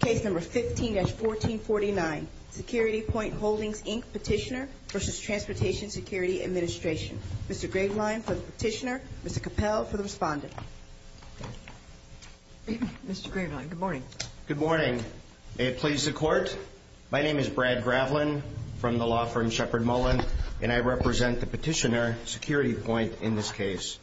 Case No. 15-1449, SecurityPoint Holdings, Inc. Petitioner v. Transportation Security Administration. Mr. Graveline for the Petitioner. Mr. Capel for the Respondent. Mr. Graveline, good morning. Good morning. May it please the Court. My name is Brad Graveline from the law firm Shepard Mullen, and I represent the Petitioner, SecurityPoint, in this case.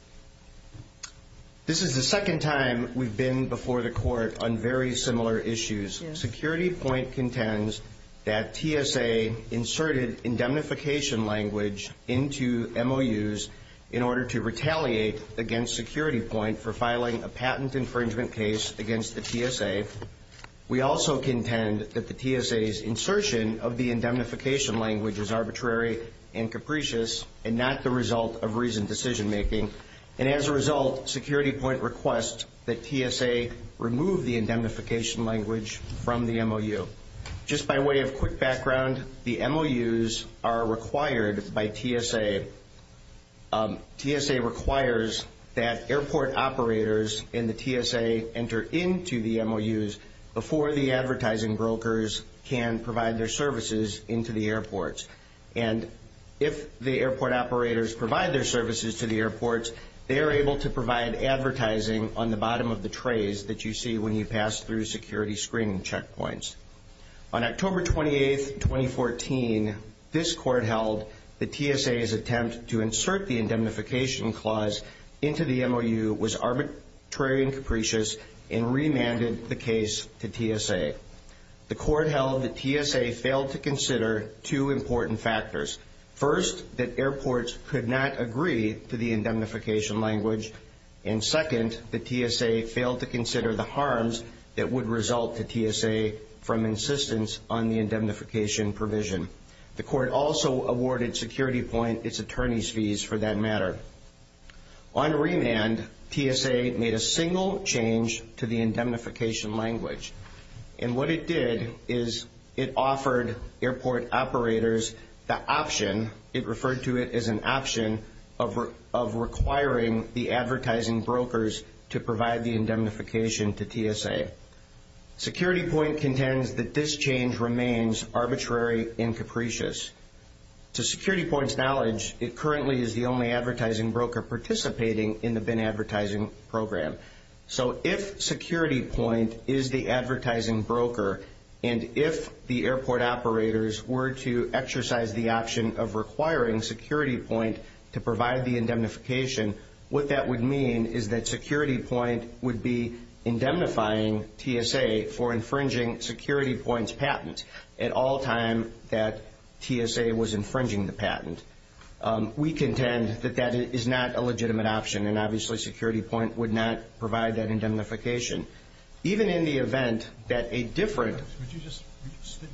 This is the second time we've been before the Court on very similar issues. SecurityPoint contends that TSA inserted indemnification language into MOUs in order to retaliate against SecurityPoint for filing a patent infringement case against the TSA. We also contend that the TSA's insertion of the indemnification language is arbitrary and capricious and not the result of reasoned decision-making. And as a result, SecurityPoint requests that TSA remove the indemnification language from the MOU. Just by way of quick background, the MOUs are required by TSA. TSA requires that airport operators in the TSA enter into the MOUs before the advertising brokers can provide their services into the airports. And if the airport operators provide their services to the airports, they are able to provide advertising on the bottom of the trays that you see when you pass through security screening checkpoints. On October 28, 2014, this Court held that TSA's attempt to insert the indemnification clause into the MOU was arbitrary and capricious and remanded the case to TSA. The Court held that TSA failed to consider two important factors. First, that airports could not agree to the indemnification language. And second, that TSA failed to consider the harms that would result to TSA from insistence on the indemnification provision. The Court also awarded SecurityPoint its attorney's fees for that matter. On remand, TSA made a single change to the indemnification language. And what it did is it offered airport operators the option, it referred to it as an option, of requiring the advertising brokers to provide the indemnification to TSA. SecurityPoint contends that this change remains arbitrary and capricious. To SecurityPoint's knowledge, it currently is the only advertising broker participating in the BIN advertising program. So if SecurityPoint is the advertising broker, and if the airport operators were to exercise the option of requiring SecurityPoint to provide the indemnification, what that would mean is that SecurityPoint would be indemnifying TSA for infringing SecurityPoint's patent at all time that TSA was infringing the patent. We contend that that is not a legitimate option, and obviously SecurityPoint would not provide that indemnification. Even in the event that a different... Would you just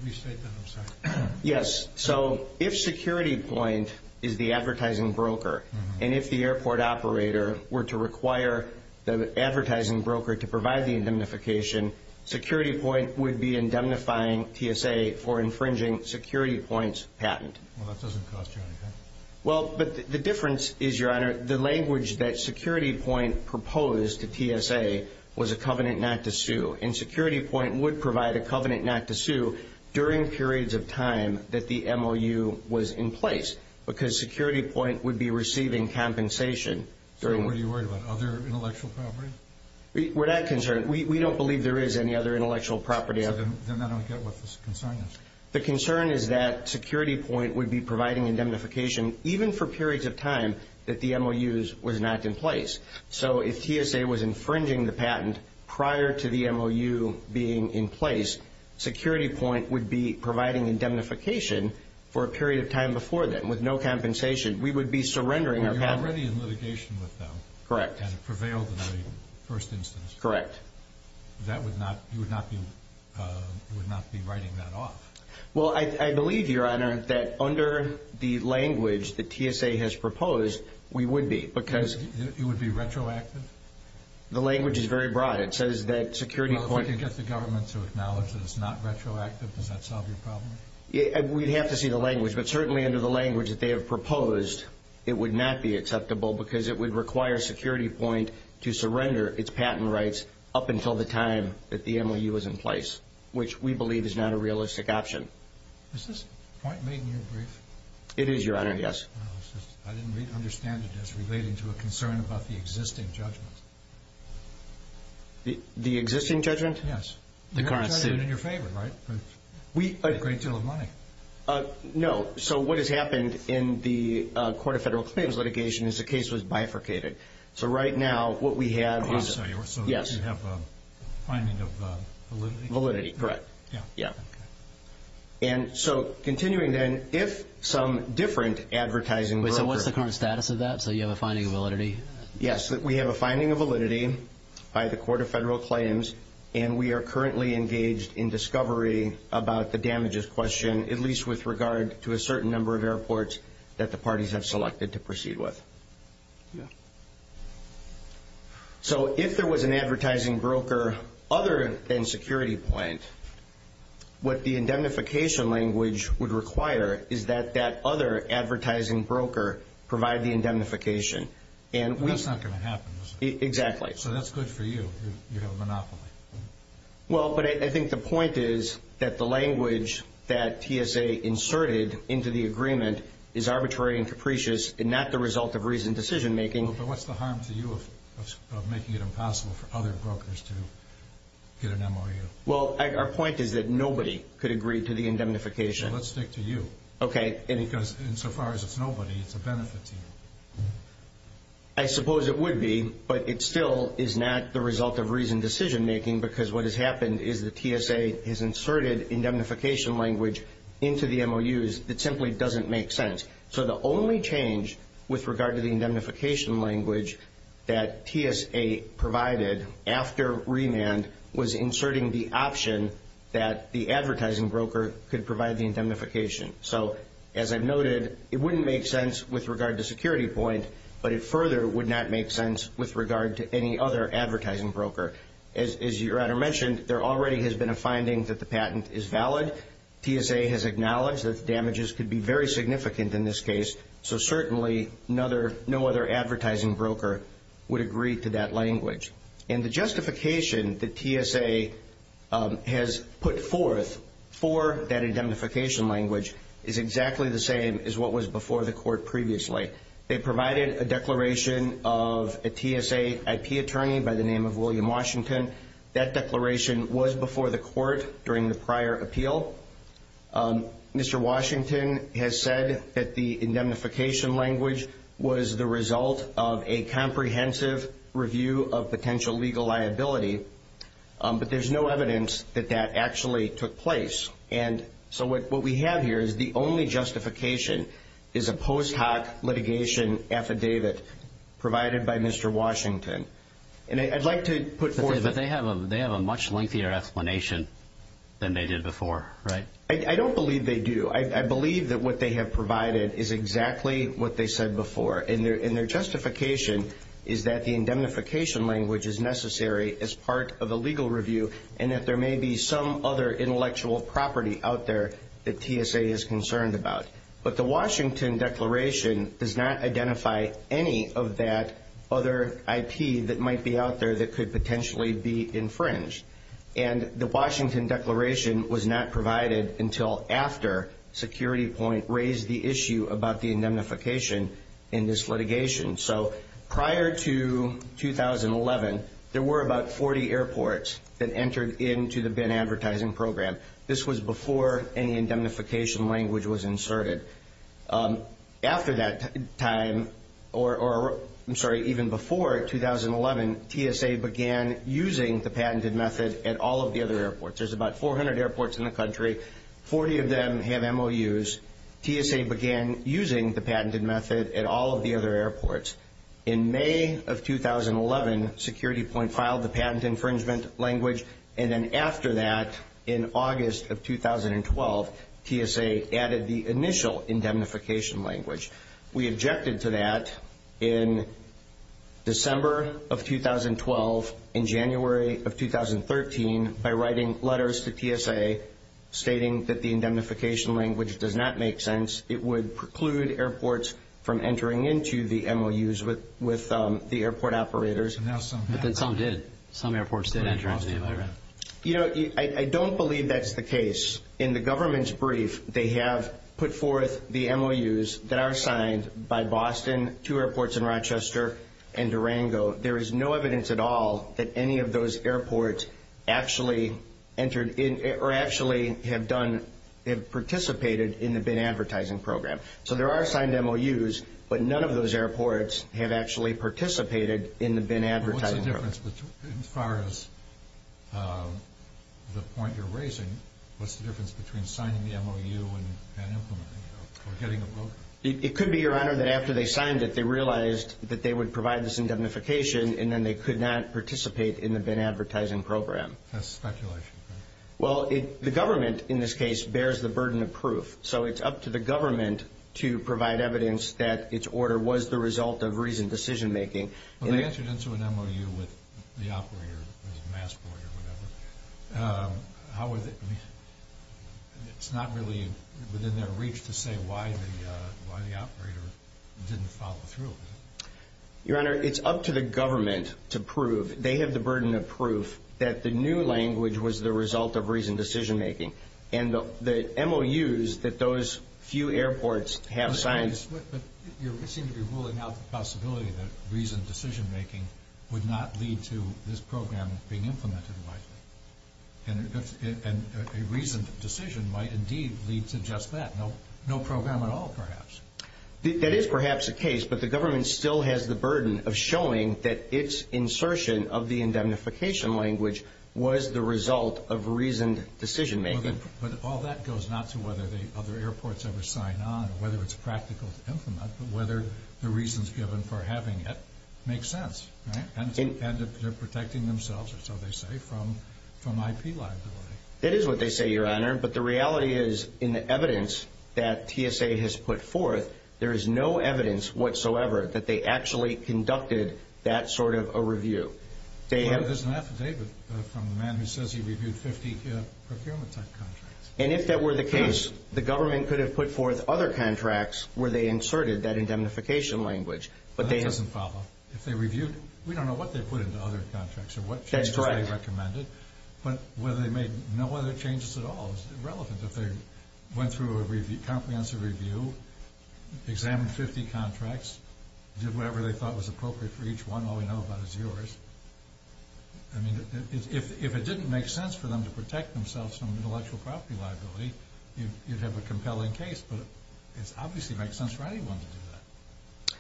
restate that? I'm sorry. Yes. So if SecurityPoint is the advertising broker, and if the airport operator were to require the advertising broker to provide the indemnification, SecurityPoint would be indemnifying TSA for infringing SecurityPoint's patent. Well, that doesn't cost you anything. Well, but the difference is, Your Honor, the language that SecurityPoint proposed to TSA was a covenant not to sue, and SecurityPoint would provide a covenant not to sue during periods of time that the MOU was in place, because SecurityPoint would be receiving compensation during... So what are you worried about, other intellectual property? We're not concerned. We don't believe there is any other intellectual property. So then I don't get what the concern is. The concern is that SecurityPoint would be providing indemnification even for periods of time that the MOU was not in place. So if TSA was infringing the patent prior to the MOU being in place, SecurityPoint would be providing indemnification for a period of time before then with no compensation. We would be surrendering our patent. You're already in litigation with them. Correct. And it prevailed in the first instance. Correct. You would not be writing that off. Well, I believe, Your Honor, that under the language that TSA has proposed, we would be, because... It would be retroactive? The language is very broad. It says that SecurityPoint... Well, if you get the government to acknowledge that it's not retroactive, does that solve your problem? We'd have to see the language, but certainly under the language that they have proposed, it would not be acceptable because it would require SecurityPoint to surrender its patent rights up until the time that the MOU was in place, which we believe is not a realistic option. Is this point made in your brief? It is, Your Honor, yes. I didn't understand it as relating to a concern about the existing judgment. The existing judgment? Yes. The current suit. It's been in your favor, right? A great deal of money. No. So what has happened in the Court of Federal Claims litigation is the case was bifurcated. So right now, what we have is... Oh, I'm sorry. Yes. You have a finding of validity? Validity, correct. Yeah. Yeah. And so continuing then, if some different advertising broker... So what's the current status of that? So you have a finding of validity? Yes. We have a finding of validity by the Court of Federal Claims, and we are currently engaged in discovery about the damages question, at least with regard to a certain number of airports that the parties have selected to proceed with. Yeah. But that's not going to happen, is it? Exactly. So that's good for you. You have a monopoly. Well, but I think the point is that the language that TSA inserted into the agreement is arbitrary and capricious and not the result of reasoned decision making. But what's the harm to you of making it impossible for other brokers to get an MOU? Well, our point is that nobody could agree to the indemnification. So let's stick to you. Okay. Because insofar as it's nobody, it's a benefit to you. I suppose it would be, but it still is not the result of reasoned decision making because what has happened is that TSA has inserted indemnification language into the MOUs that simply doesn't make sense. So the only change with regard to the indemnification language that TSA provided after remand was inserting the option that the advertising broker could provide the indemnification. So, as I've noted, it wouldn't make sense with regard to security point, but it further would not make sense with regard to any other advertising broker. As your Honor mentioned, there already has been a finding that the patent is valid. TSA has acknowledged that the damages could be very significant in this case, so certainly no other advertising broker would agree to that language. And the justification that TSA has put forth for that indemnification language is exactly the same as what was before the court previously. They provided a declaration of a TSA IP attorney by the name of William Washington. That declaration was before the court during the prior appeal. Mr. Washington has said that the indemnification language was the result of a comprehensive review of potential legal liability, but there's no evidence that that actually took place. And so what we have here is the only justification is a post hoc litigation affidavit provided by Mr. Washington. And I'd like to put forth... But they have a much lengthier explanation than they did before, right? I don't believe they do. I believe that what they have provided is exactly what they said before, and their justification is that the indemnification language is necessary as part of a legal review and that there may be some other intellectual property out there that TSA is concerned about. But the Washington declaration does not identify any of that other IP that might be out there that could potentially be infringed. And the Washington declaration was not provided until after Security Point raised the issue about the indemnification in this litigation. So prior to 2011, there were about 40 airports that entered into the BIN advertising program. This was before any indemnification language was inserted. After that time, or I'm sorry, even before 2011, TSA began using the patented method at all of the other airports. There's about 400 airports in the country. Forty of them have MOUs. TSA began using the patented method at all of the other airports. In May of 2011, Security Point filed the patent infringement language, and then after that, in August of 2012, TSA added the initial indemnification language. We objected to that in December of 2012 and January of 2013 by writing letters to TSA stating that the indemnification language does not make sense. It would preclude airports from entering into the MOUs with the airport operators. But then some did. Some airports did enter into the MOU. You know, I don't believe that's the case. In the government's brief, they have put forth the MOUs that are signed by Boston, two airports in Rochester, and Durango. There is no evidence at all that any of those airports actually entered in or actually have participated in the BIN advertising program. So there are signed MOUs, but none of those airports have actually participated in the BIN advertising program. What's the difference as far as the point you're raising? What's the difference between signing the MOU and implementing it or getting a broker? It could be, Your Honor, that after they signed it, they realized that they would provide this indemnification, and then they could not participate in the BIN advertising program. That's speculation. Well, the government, in this case, bears the burden of proof. So it's up to the government to provide evidence that its order was the result of reasoned decision-making. When they entered into an MOU with the operator, the passport or whatever, it's not really within their reach to say why the operator didn't follow through, is it? Your Honor, it's up to the government to prove. They have the burden of proof that the new language was the result of reasoned decision-making. And the MOUs that those few airports have signed… But you seem to be ruling out the possibility that reasoned decision-making would not lead to this program being implemented. And a reasoned decision might indeed lead to just that, no program at all, perhaps. That is perhaps the case, but the government still has the burden of showing that its insertion of the indemnification language was the result of reasoned decision-making. But all that goes not to whether the other airports ever sign on or whether it's practical to implement, but whether the reasons given for having it make sense, right? And if they're protecting themselves, or so they say, from IP liability. That is what they say, Your Honor. But the reality is, in the evidence that TSA has put forth, there is no evidence whatsoever that they actually conducted that sort of a review. Well, there's an affidavit from the man who says he reviewed 50 procurement-type contracts. And if that were the case, the government could have put forth other contracts where they inserted that indemnification language. That doesn't follow. If they reviewed, we don't know what they put into other contracts or what changes they recommended. But whether they made no other changes at all is irrelevant. If they went through a comprehensive review, examined 50 contracts, did whatever they thought was appropriate for each one, all we know about is yours. I mean, if it didn't make sense for them to protect themselves from intellectual property liability, you'd have a compelling case. But it obviously makes sense for anyone to do that.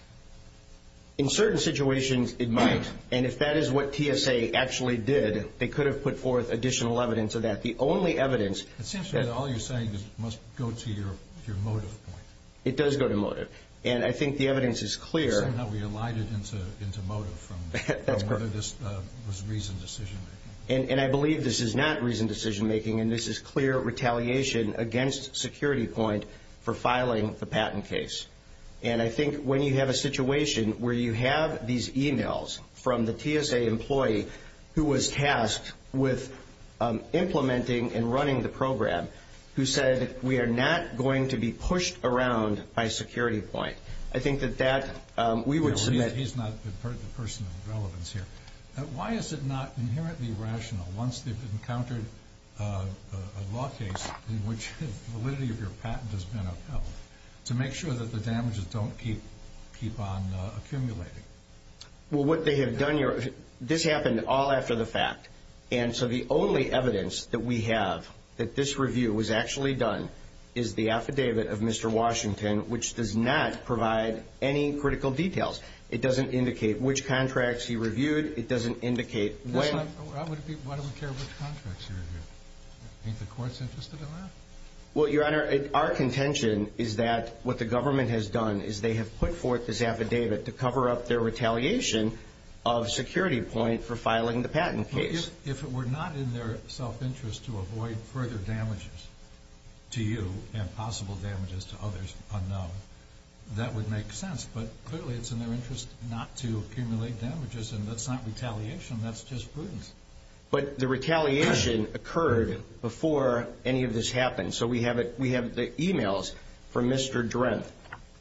In certain situations, it might. And if that is what TSA actually did, they could have put forth additional evidence of that. The only evidence. It seems to me that all you're saying must go to your motive point. It does go to motive. And I think the evidence is clear. Somehow we alighted into motive from whether this was reasoned decision-making. And I believe this is not reasoned decision-making, and this is clear retaliation against Security Point for filing the patent case. And I think when you have a situation where you have these e-mails from the TSA employee who was tasked with implementing and running the program, who said, we are not going to be pushed around by Security Point. I think that that we would submit. He's not the person of relevance here. Why is it not inherently rational once they've encountered a law case in which the validity of your patent has been upheld to make sure that the damages don't keep on accumulating? Well, what they have done here, this happened all after the fact. And so the only evidence that we have that this review was actually done is the affidavit of Mr. Washington, which does not provide any critical details. It doesn't indicate which contracts he reviewed. It doesn't indicate when. Why do we care which contracts he reviewed? Ain't the courts interested in that? Well, Your Honor, our contention is that what the government has done is they have put forth this affidavit to cover up their retaliation of Security Point for filing the patent case. But if it were not in their self-interest to avoid further damages to you and possible damages to others unknown, that would make sense. But clearly it's in their interest not to accumulate damages. And that's not retaliation. That's just prudence. But the retaliation occurred before any of this happened. So we have the e-mails from Mr. Drenth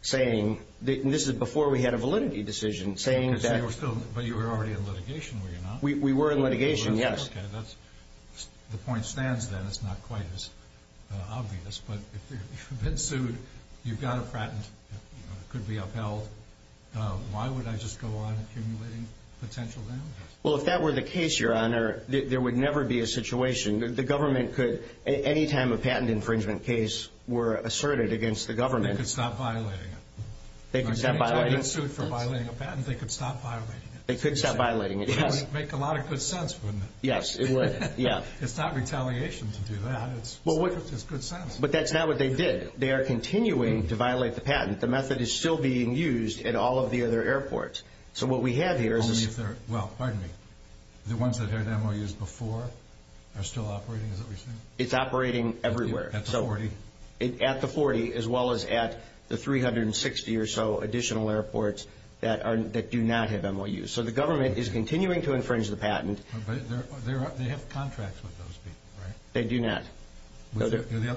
saying, and this is before we had a validity decision, saying that – But you were already in litigation, were you not? We were in litigation, yes. Okay, that's – the point stands then. It's not quite as obvious. But if you've been sued, you've got a patent that could be upheld, why would I just go on accumulating potential damages? Well, if that were the case, Your Honor, there would never be a situation. The government could, any time a patent infringement case were asserted against the government – They could stop violating it. They could stop violating it. If they'd been sued for violating a patent, they could stop violating it. They could stop violating it, yes. That would make a lot of good sense, wouldn't it? Yes, it would, yeah. It's not retaliation to do that. It's good sense. But that's not what they did. They are continuing to violate the patent. The method is still being used at all of the other airports. So what we have here is – Only if they're – well, pardon me. The ones that had MOUs before are still operating, is that what you're saying? It's operating everywhere. At the 40? At the 40, as well as at the 360 or so additional airports that do not have MOUs. So the government is continuing to infringe the patent. But they have contracts with those people, right? They do not. So let me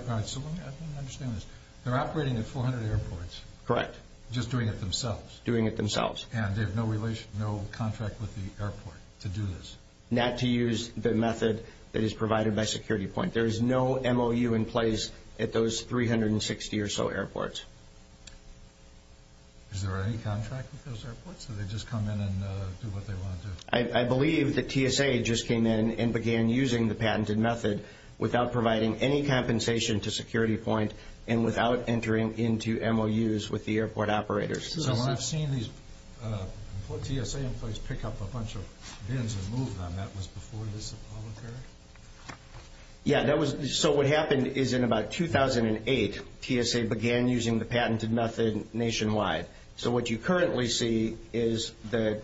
understand this. They're operating at 400 airports. Correct. Just doing it themselves. Doing it themselves. And they have no contract with the airport to do this? Not to use the method that is provided by Security Point. There is no MOU in place at those 360 or so airports. Is there any contract with those airports? So they just come in and do what they want to do? I believe that TSA just came in and began using the patented method without providing any compensation to Security Point and without entering into MOUs with the airport operators. So when I've seen these TSA employees pick up a bunch of bins and move them, that was before this all occurred? Yeah, that was – so what happened is in about 2008, TSA began using the patented method nationwide. So what you currently see is the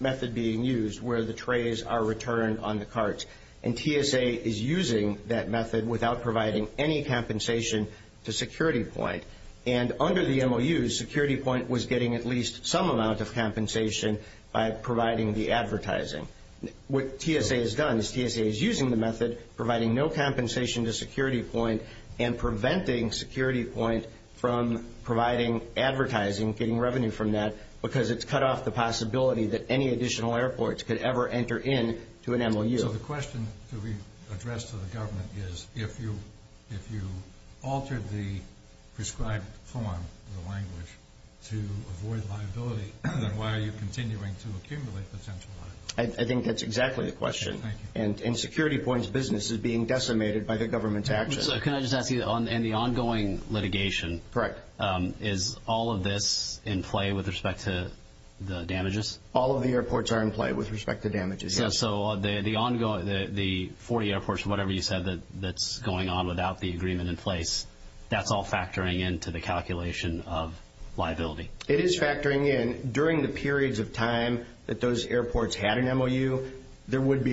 method being used where the trays are returned on the carts. And TSA is using that method without providing any compensation to Security Point. And under the MOUs, Security Point was getting at least some amount of compensation by providing the advertising. What TSA has done is TSA is using the method, providing no compensation to Security Point and preventing Security Point from providing advertising, getting revenue from that, because it's cut off the possibility that any additional airports could ever enter into an MOU. So the question to be addressed to the government is, if you altered the prescribed form of the language to avoid liability, then why are you continuing to accumulate potential liability? I think that's exactly the question. And Security Point's business is being decimated by the government's actions. So can I just ask you, in the ongoing litigation, is all of this in play with respect to the damages? All of the airports are in play with respect to damages, yes. So the 40 airports or whatever you said that's going on without the agreement in place, that's all factoring into the calculation of liability? It is factoring in. During the periods of time that those airports had an MOU, but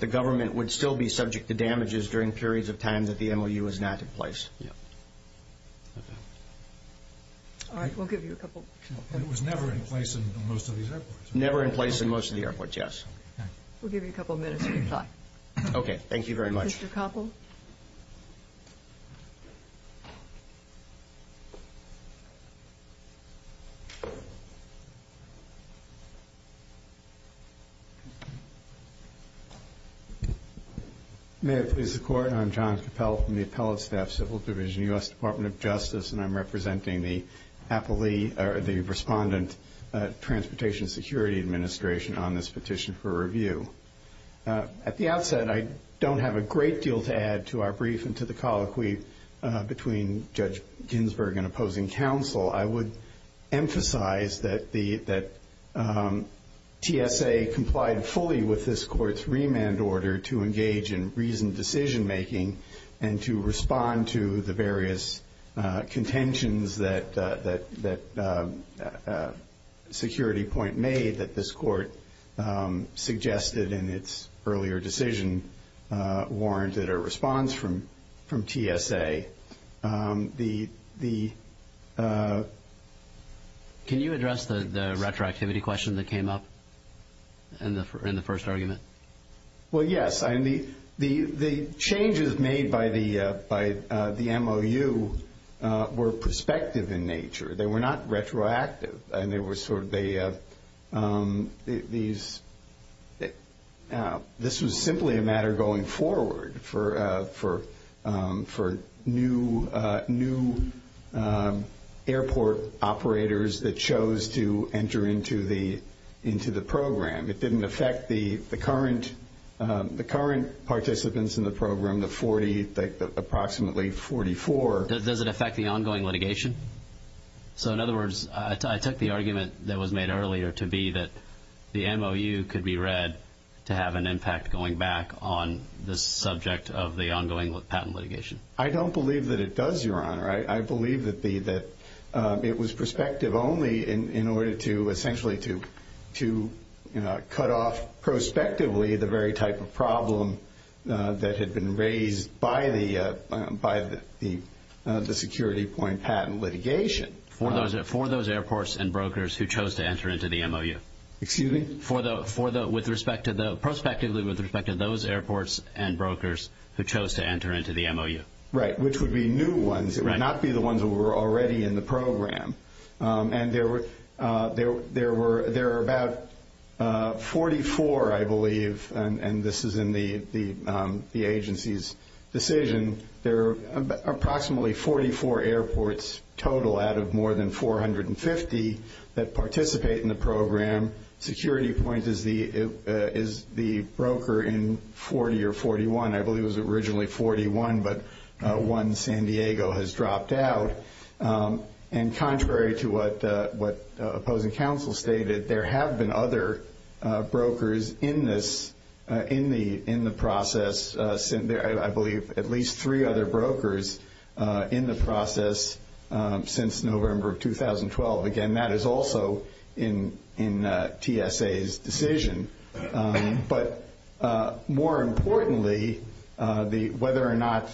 the government would still be subject to damages during periods of time that the MOU was not in place. All right, we'll give you a couple minutes. It was never in place in most of these airports? Never in place in most of the airports, yes. We'll give you a couple minutes to reply. Okay, thank you very much. Mr. Koppel? May it please the Court, I'm John Koppel from the Appellate Staff Civil Division, U.S. Department of Justice, and I'm representing the Respondent Transportation Security Administration on this petition for review. At the outset, I don't have a great deal to add to our brief and to the colloquy between Judge Ginsburg and opposing counsel. I would emphasize that TSA complied fully with this Court's remand order to engage in reasoned decision-making and to respond to the various contentions that Security Point made that this Court suggested in its earlier decision warranted a response from TSA. Can you address the retroactivity question that came up in the first argument? Well, yes. The changes made by the MOU were prospective in nature. They were not retroactive. This was simply a matter going forward for new airport operators that chose to enter into the program. It didn't affect the current participants in the program, the approximately 44. Does it affect the ongoing litigation? So, in other words, I took the argument that was made earlier to be that the MOU could be read to have an impact going back on the subject of the ongoing patent litigation. I don't believe that it does, Your Honor. I believe that it was prospective only in order to essentially to cut off prospectively the very type of problem that had been raised by the Security Point patent litigation. For those airports and brokers who chose to enter into the MOU? Excuse me? Prospectively with respect to those airports and brokers who chose to enter into the MOU? Right, which would be new ones. It would not be the ones that were already in the program. There are about 44, I believe, and this is in the agency's decision. There are approximately 44 airports total out of more than 450 that participate in the program. Security Point is the broker in 40 or 41. I believe it was originally 41, but one, San Diego, has dropped out. Contrary to what opposing counsel stated, there have been other brokers in the process. I believe at least three other brokers in the process since November of 2012. Again, that is also in TSA's decision. But more importantly, whether or not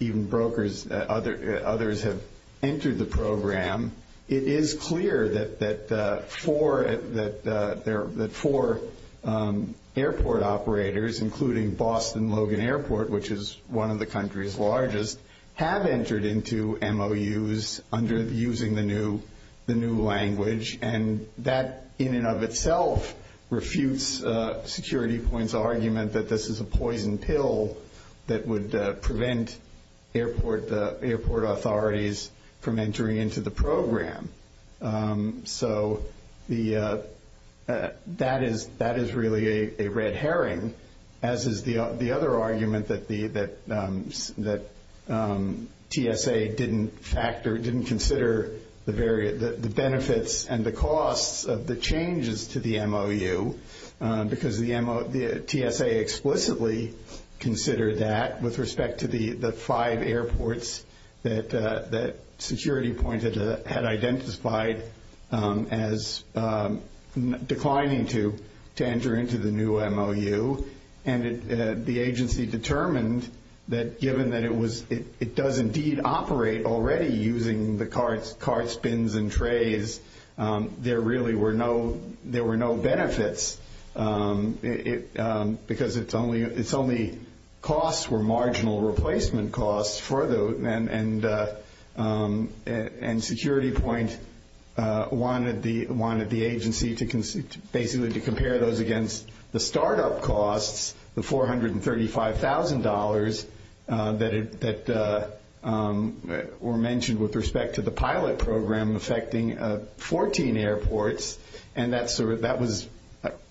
even brokers, others have entered the program, it is clear that four airport operators, including Boston Logan Airport, which is one of the country's largest, have entered into MOUs using the new language. And that in and of itself refutes Security Point's argument that this is a poison pill that would prevent airport authorities from entering into the program. So that is really a red herring, as is the other argument that TSA didn't factor, didn't consider the benefits and the costs of the changes to the MOU, because TSA explicitly considered that with respect to the five airports that Security Point had identified as declining to enter into the new MOU. And the agency determined that given that it does indeed operate already using the carts, bins, and trays, there really were no benefits because its only costs were marginal replacement costs. And Security Point wanted the agency to basically compare those against the startup costs, the $435,000 that were mentioned with respect to the pilot program affecting 14 airports. And that was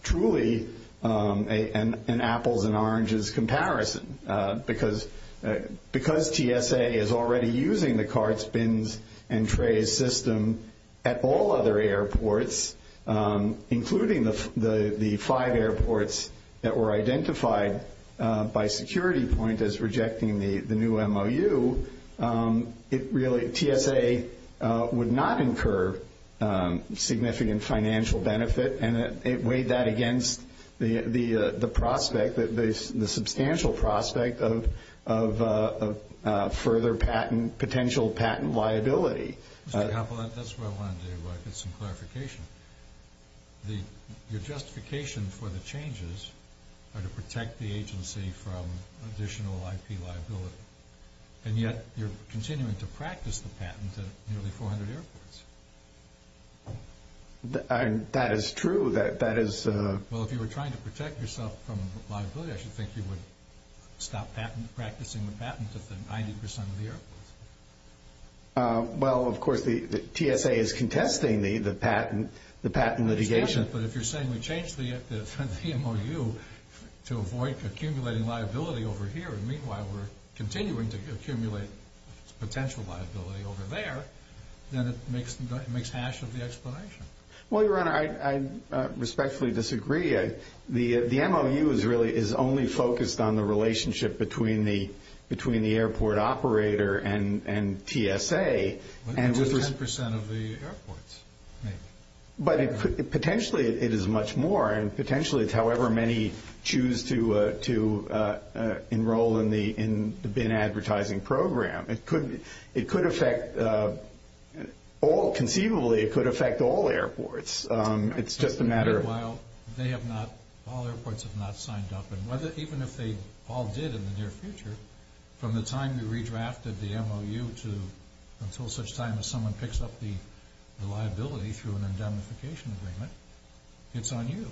truly an apples and oranges comparison. Because TSA is already using the carts, bins, and trays system at all other airports, including the five airports that were identified by Security Point as rejecting the new MOU, TSA would not incur significant financial benefit. And it weighed that against the prospect, the substantial prospect of further potential patent liability. Mr. Koppel, that's where I wanted to get some clarification. Your justification for the changes are to protect the agency from additional IP liability, and yet you're continuing to practice the patent at nearly 400 airports. That is true. Well, if you were trying to protect yourself from liability, I should think you would stop practicing the patent at the 90% of the airports. Well, of course, TSA is contesting the patent litigation. But if you're saying we changed the MOU to avoid accumulating liability over here, and meanwhile we're continuing to accumulate potential liability over there, then it makes hash of the explanation. Well, Your Honor, I respectfully disagree. The MOU is only focused on the relationship between the airport operator and TSA. Which is 10% of the airports. But potentially it is much more, and potentially it's however many choose to enroll in the bin advertising program. It could affect all, conceivably it could affect all airports. It's just a matter of- Meanwhile, all airports have not signed up. And even if they all did in the near future, from the time you redrafted the MOU until such time as someone picks up the liability through an indemnification agreement, it's on you.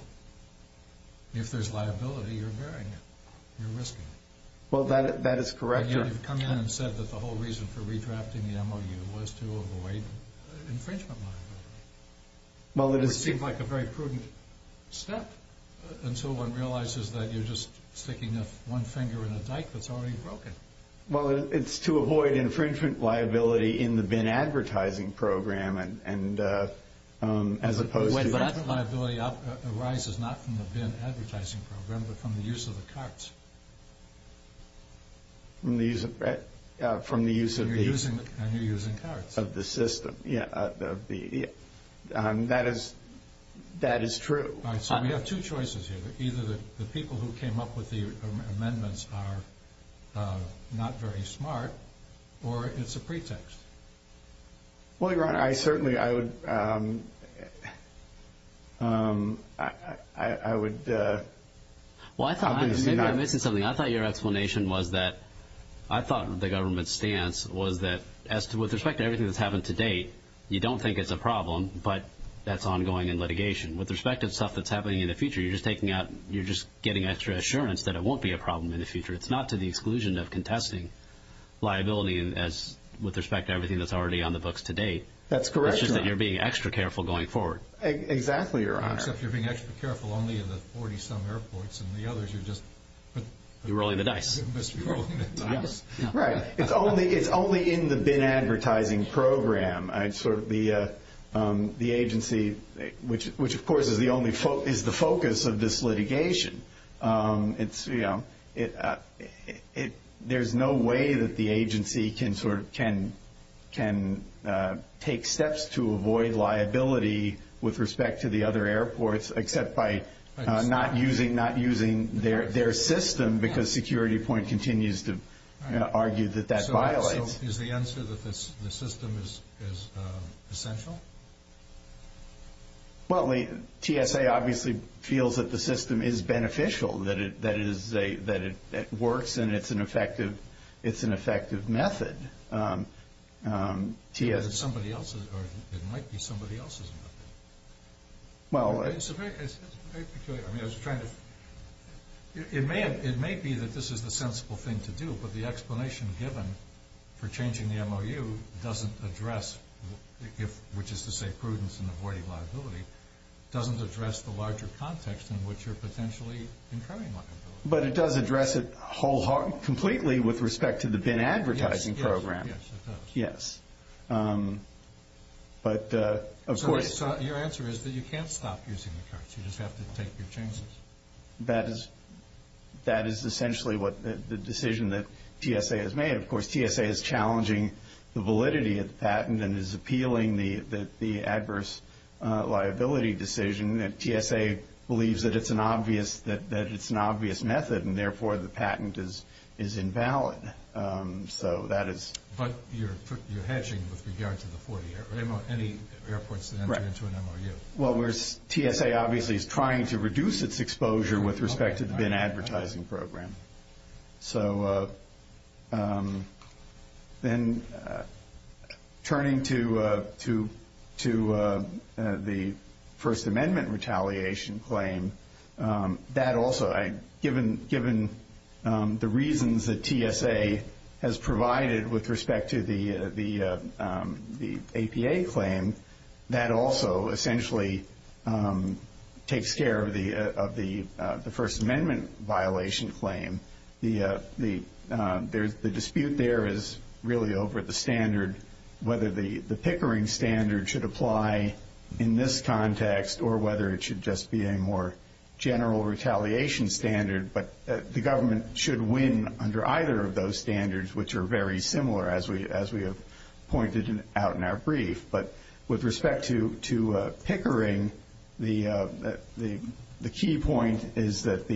If there's liability, you're burying it. Well, that is correct, Your Honor. But you've come in and said that the whole reason for redrafting the MOU was to avoid infringement liability. Well, it is- It seems like a very prudent step. Until one realizes that you're just sticking one finger in a dike that's already broken. Well, it's to avoid infringement liability in the bin advertising program, and as opposed to- But that liability arises not from the bin advertising program, but from the use of the carts. From the use of the- And you're using carts. Of the system, yeah. That is true. All right, so we have two choices here. Either the people who came up with the amendments are not very smart, or it's a pretext. Well, Your Honor, I certainly- I would- Well, maybe I'm missing something. I thought your explanation was that- I thought the government's stance was that with respect to everything that's happened to date, you don't think it's a problem, but that's ongoing in litigation. With respect to stuff that's happening in the future, you're just taking out- you're just getting extra assurance that it won't be a problem in the future. It's not to the exclusion of contesting liability with respect to everything that's already on the books to date. That's correct, Your Honor. It's just that you're being extra careful going forward. Exactly, Your Honor. Except you're being extra careful only in the 40-some airports. In the others, you're just- You're rolling the dice. You're just rolling the dice. Right. It's only in the BIN advertising program. The agency, which of course is the focus of this litigation, there's no way that the agency can take steps to avoid liability with respect to the other airports except by not using their system because Security Point continues to argue that that violates- So is the answer that the system is essential? Well, TSA obviously feels that the system is beneficial, that it works, and it's an effective method. It's somebody else's, or it might be somebody else's method. Well- It's very peculiar. I mean, I was trying to- It may be that this is the sensible thing to do, but the explanation given for changing the MOU doesn't address- which is to say prudence in avoiding liability- doesn't address the larger context in which you're potentially incurring liability. But it does address it completely with respect to the BIN advertising program. Yes, it does. Yes. But of course- So your answer is that you can't stop using the cards. You just have to take your chances. That is essentially the decision that TSA has made. Of course, TSA is challenging the validity of the patent and is appealing the adverse liability decision. TSA believes that it's an obvious method, and therefore the patent is invalid. So that is- But you're hedging with regard to the 40 airports, any airports that enter into an MOU. Well, TSA obviously is trying to reduce its exposure with respect to the BIN advertising program. So then turning to the First Amendment retaliation claim, that also-given the reasons that TSA has provided with respect to the APA claim, that also essentially takes care of the First Amendment violation claim. The dispute there is really over the standard, whether the Pickering standard should apply in this context or whether it should just be a more general retaliation standard. But the government should win under either of those standards, which are very similar, as we have pointed out in our brief. But with respect to Pickering, the key point is that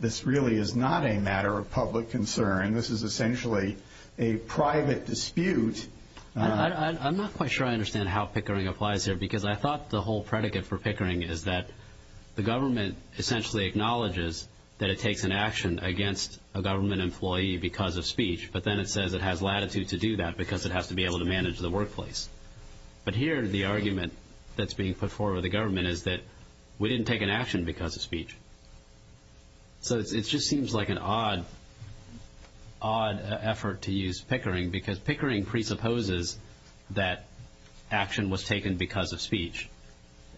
this really is not a matter of public concern. This is essentially a private dispute. I'm not quite sure I understand how Pickering applies here, because I thought the whole predicate for Pickering is that the government essentially acknowledges that it takes an action against a government employee because of speech, but then it says it has latitude to do that because it has to be able to manage the workplace. But here the argument that's being put forward by the government is that we didn't take an action because of speech. So it just seems like an odd effort to use Pickering, because Pickering presupposes that action was taken because of speech.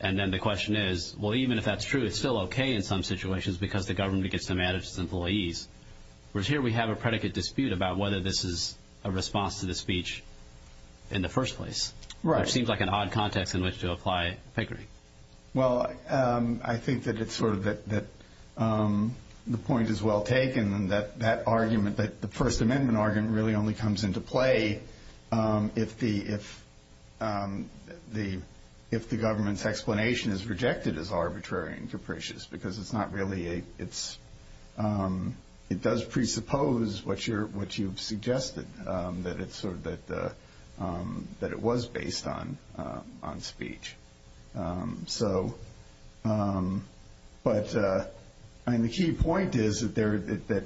And then the question is, well, even if that's true, it's still okay in some situations because the government gets to manage its employees. Whereas here we have a predicate dispute about whether this is a response to the speech in the first place. Right. Which seems like an odd context in which to apply Pickering. Well, I think that it's sort of that the point is well taken, that the First Amendment argument really only comes into play if the government's explanation is rejected as arbitrary and capricious because it does presuppose what you've suggested, that it was based on speech. But the key point is that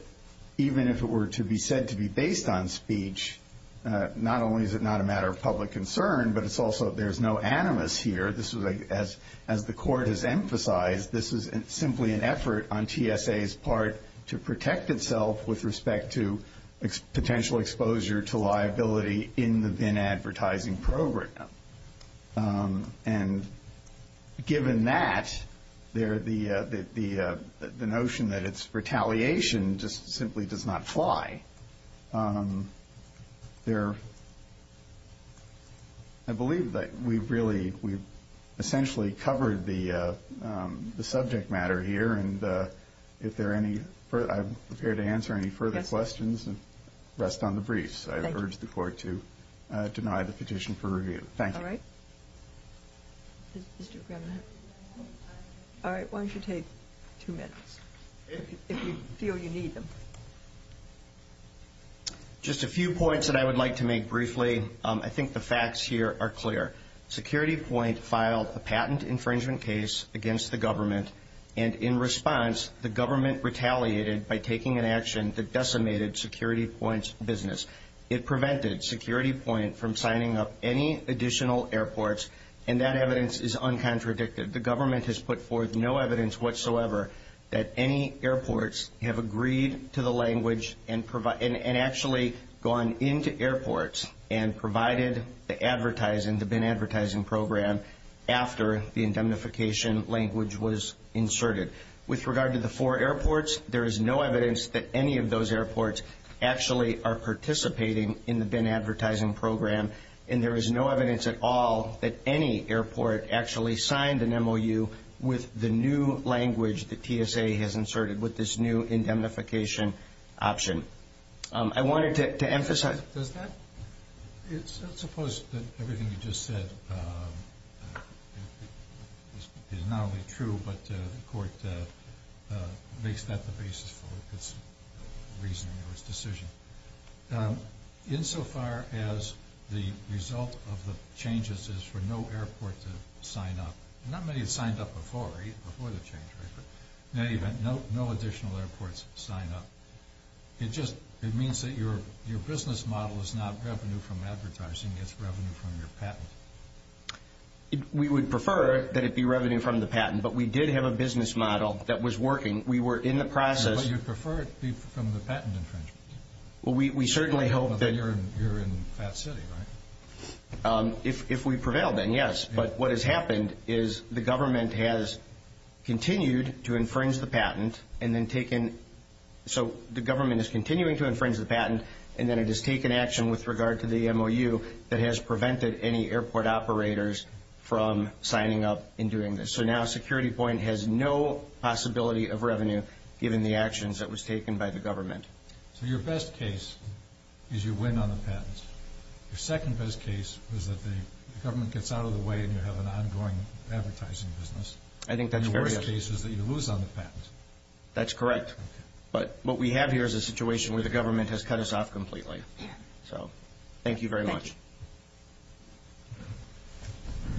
even if it were to be said to be based on speech, not only is it not a matter of public concern, but it's also there's no animus here. As the Court has emphasized, this is simply an effort on TSA's part to protect itself with respect to potential exposure to liability in the VIN advertising program. And given that, the notion that it's retaliation just simply does not fly. There, I believe that we've really, we've essentially covered the subject matter here. And if there are any, I'm prepared to answer any further questions and rest on the briefs. I urge the Court to deny the petition for review. Thank you. All right. All right, why don't you take two minutes if you feel you need them. Just a few points that I would like to make briefly. I think the facts here are clear. Security Point filed a patent infringement case against the government. And in response, the government retaliated by taking an action that decimated Security Point's business. It prevented Security Point from signing up any additional airports, and that evidence is uncontradicted. The government has put forth no evidence whatsoever that any airports have agreed to the language and actually gone into airports and provided the advertising, the VIN advertising program, after the indemnification language was inserted. With regard to the four airports, there is no evidence that any of those airports actually are participating in the VIN advertising program. And there is no evidence at all that any airport actually signed an MOU with the new language that TSA has inserted with this new indemnification option. I wanted to emphasize. Does that? Let's suppose that everything you just said is not only true, but the Court makes that the basis for its reasoning or its decision. Insofar as the result of the changes is for no airport to sign up, not many have signed up before the change, right? In any event, no additional airports sign up. It just means that your business model is not revenue from advertising. It's revenue from your patent. We would prefer that it be revenue from the patent, but we did have a business model that was working. We were in the process. But you prefer it be from the patent infringement. We certainly hope that. You're in Phat City, right? If we prevail, then yes. But what has happened is the government has continued to infringe the patent and then taken... So the government is continuing to infringe the patent, and then it has taken action with regard to the MOU that has prevented any airport operators from signing up and doing this. So now Security Point has no possibility of revenue given the actions that was taken by the government. So your best case is you win on the patents. Your second best case is that the government gets out of the way and you have an ongoing advertising business. I think that's very... And the worst case is that you lose on the patents. That's correct. But what we have here is a situation where the government has cut us off completely. So thank you very much. Thank you.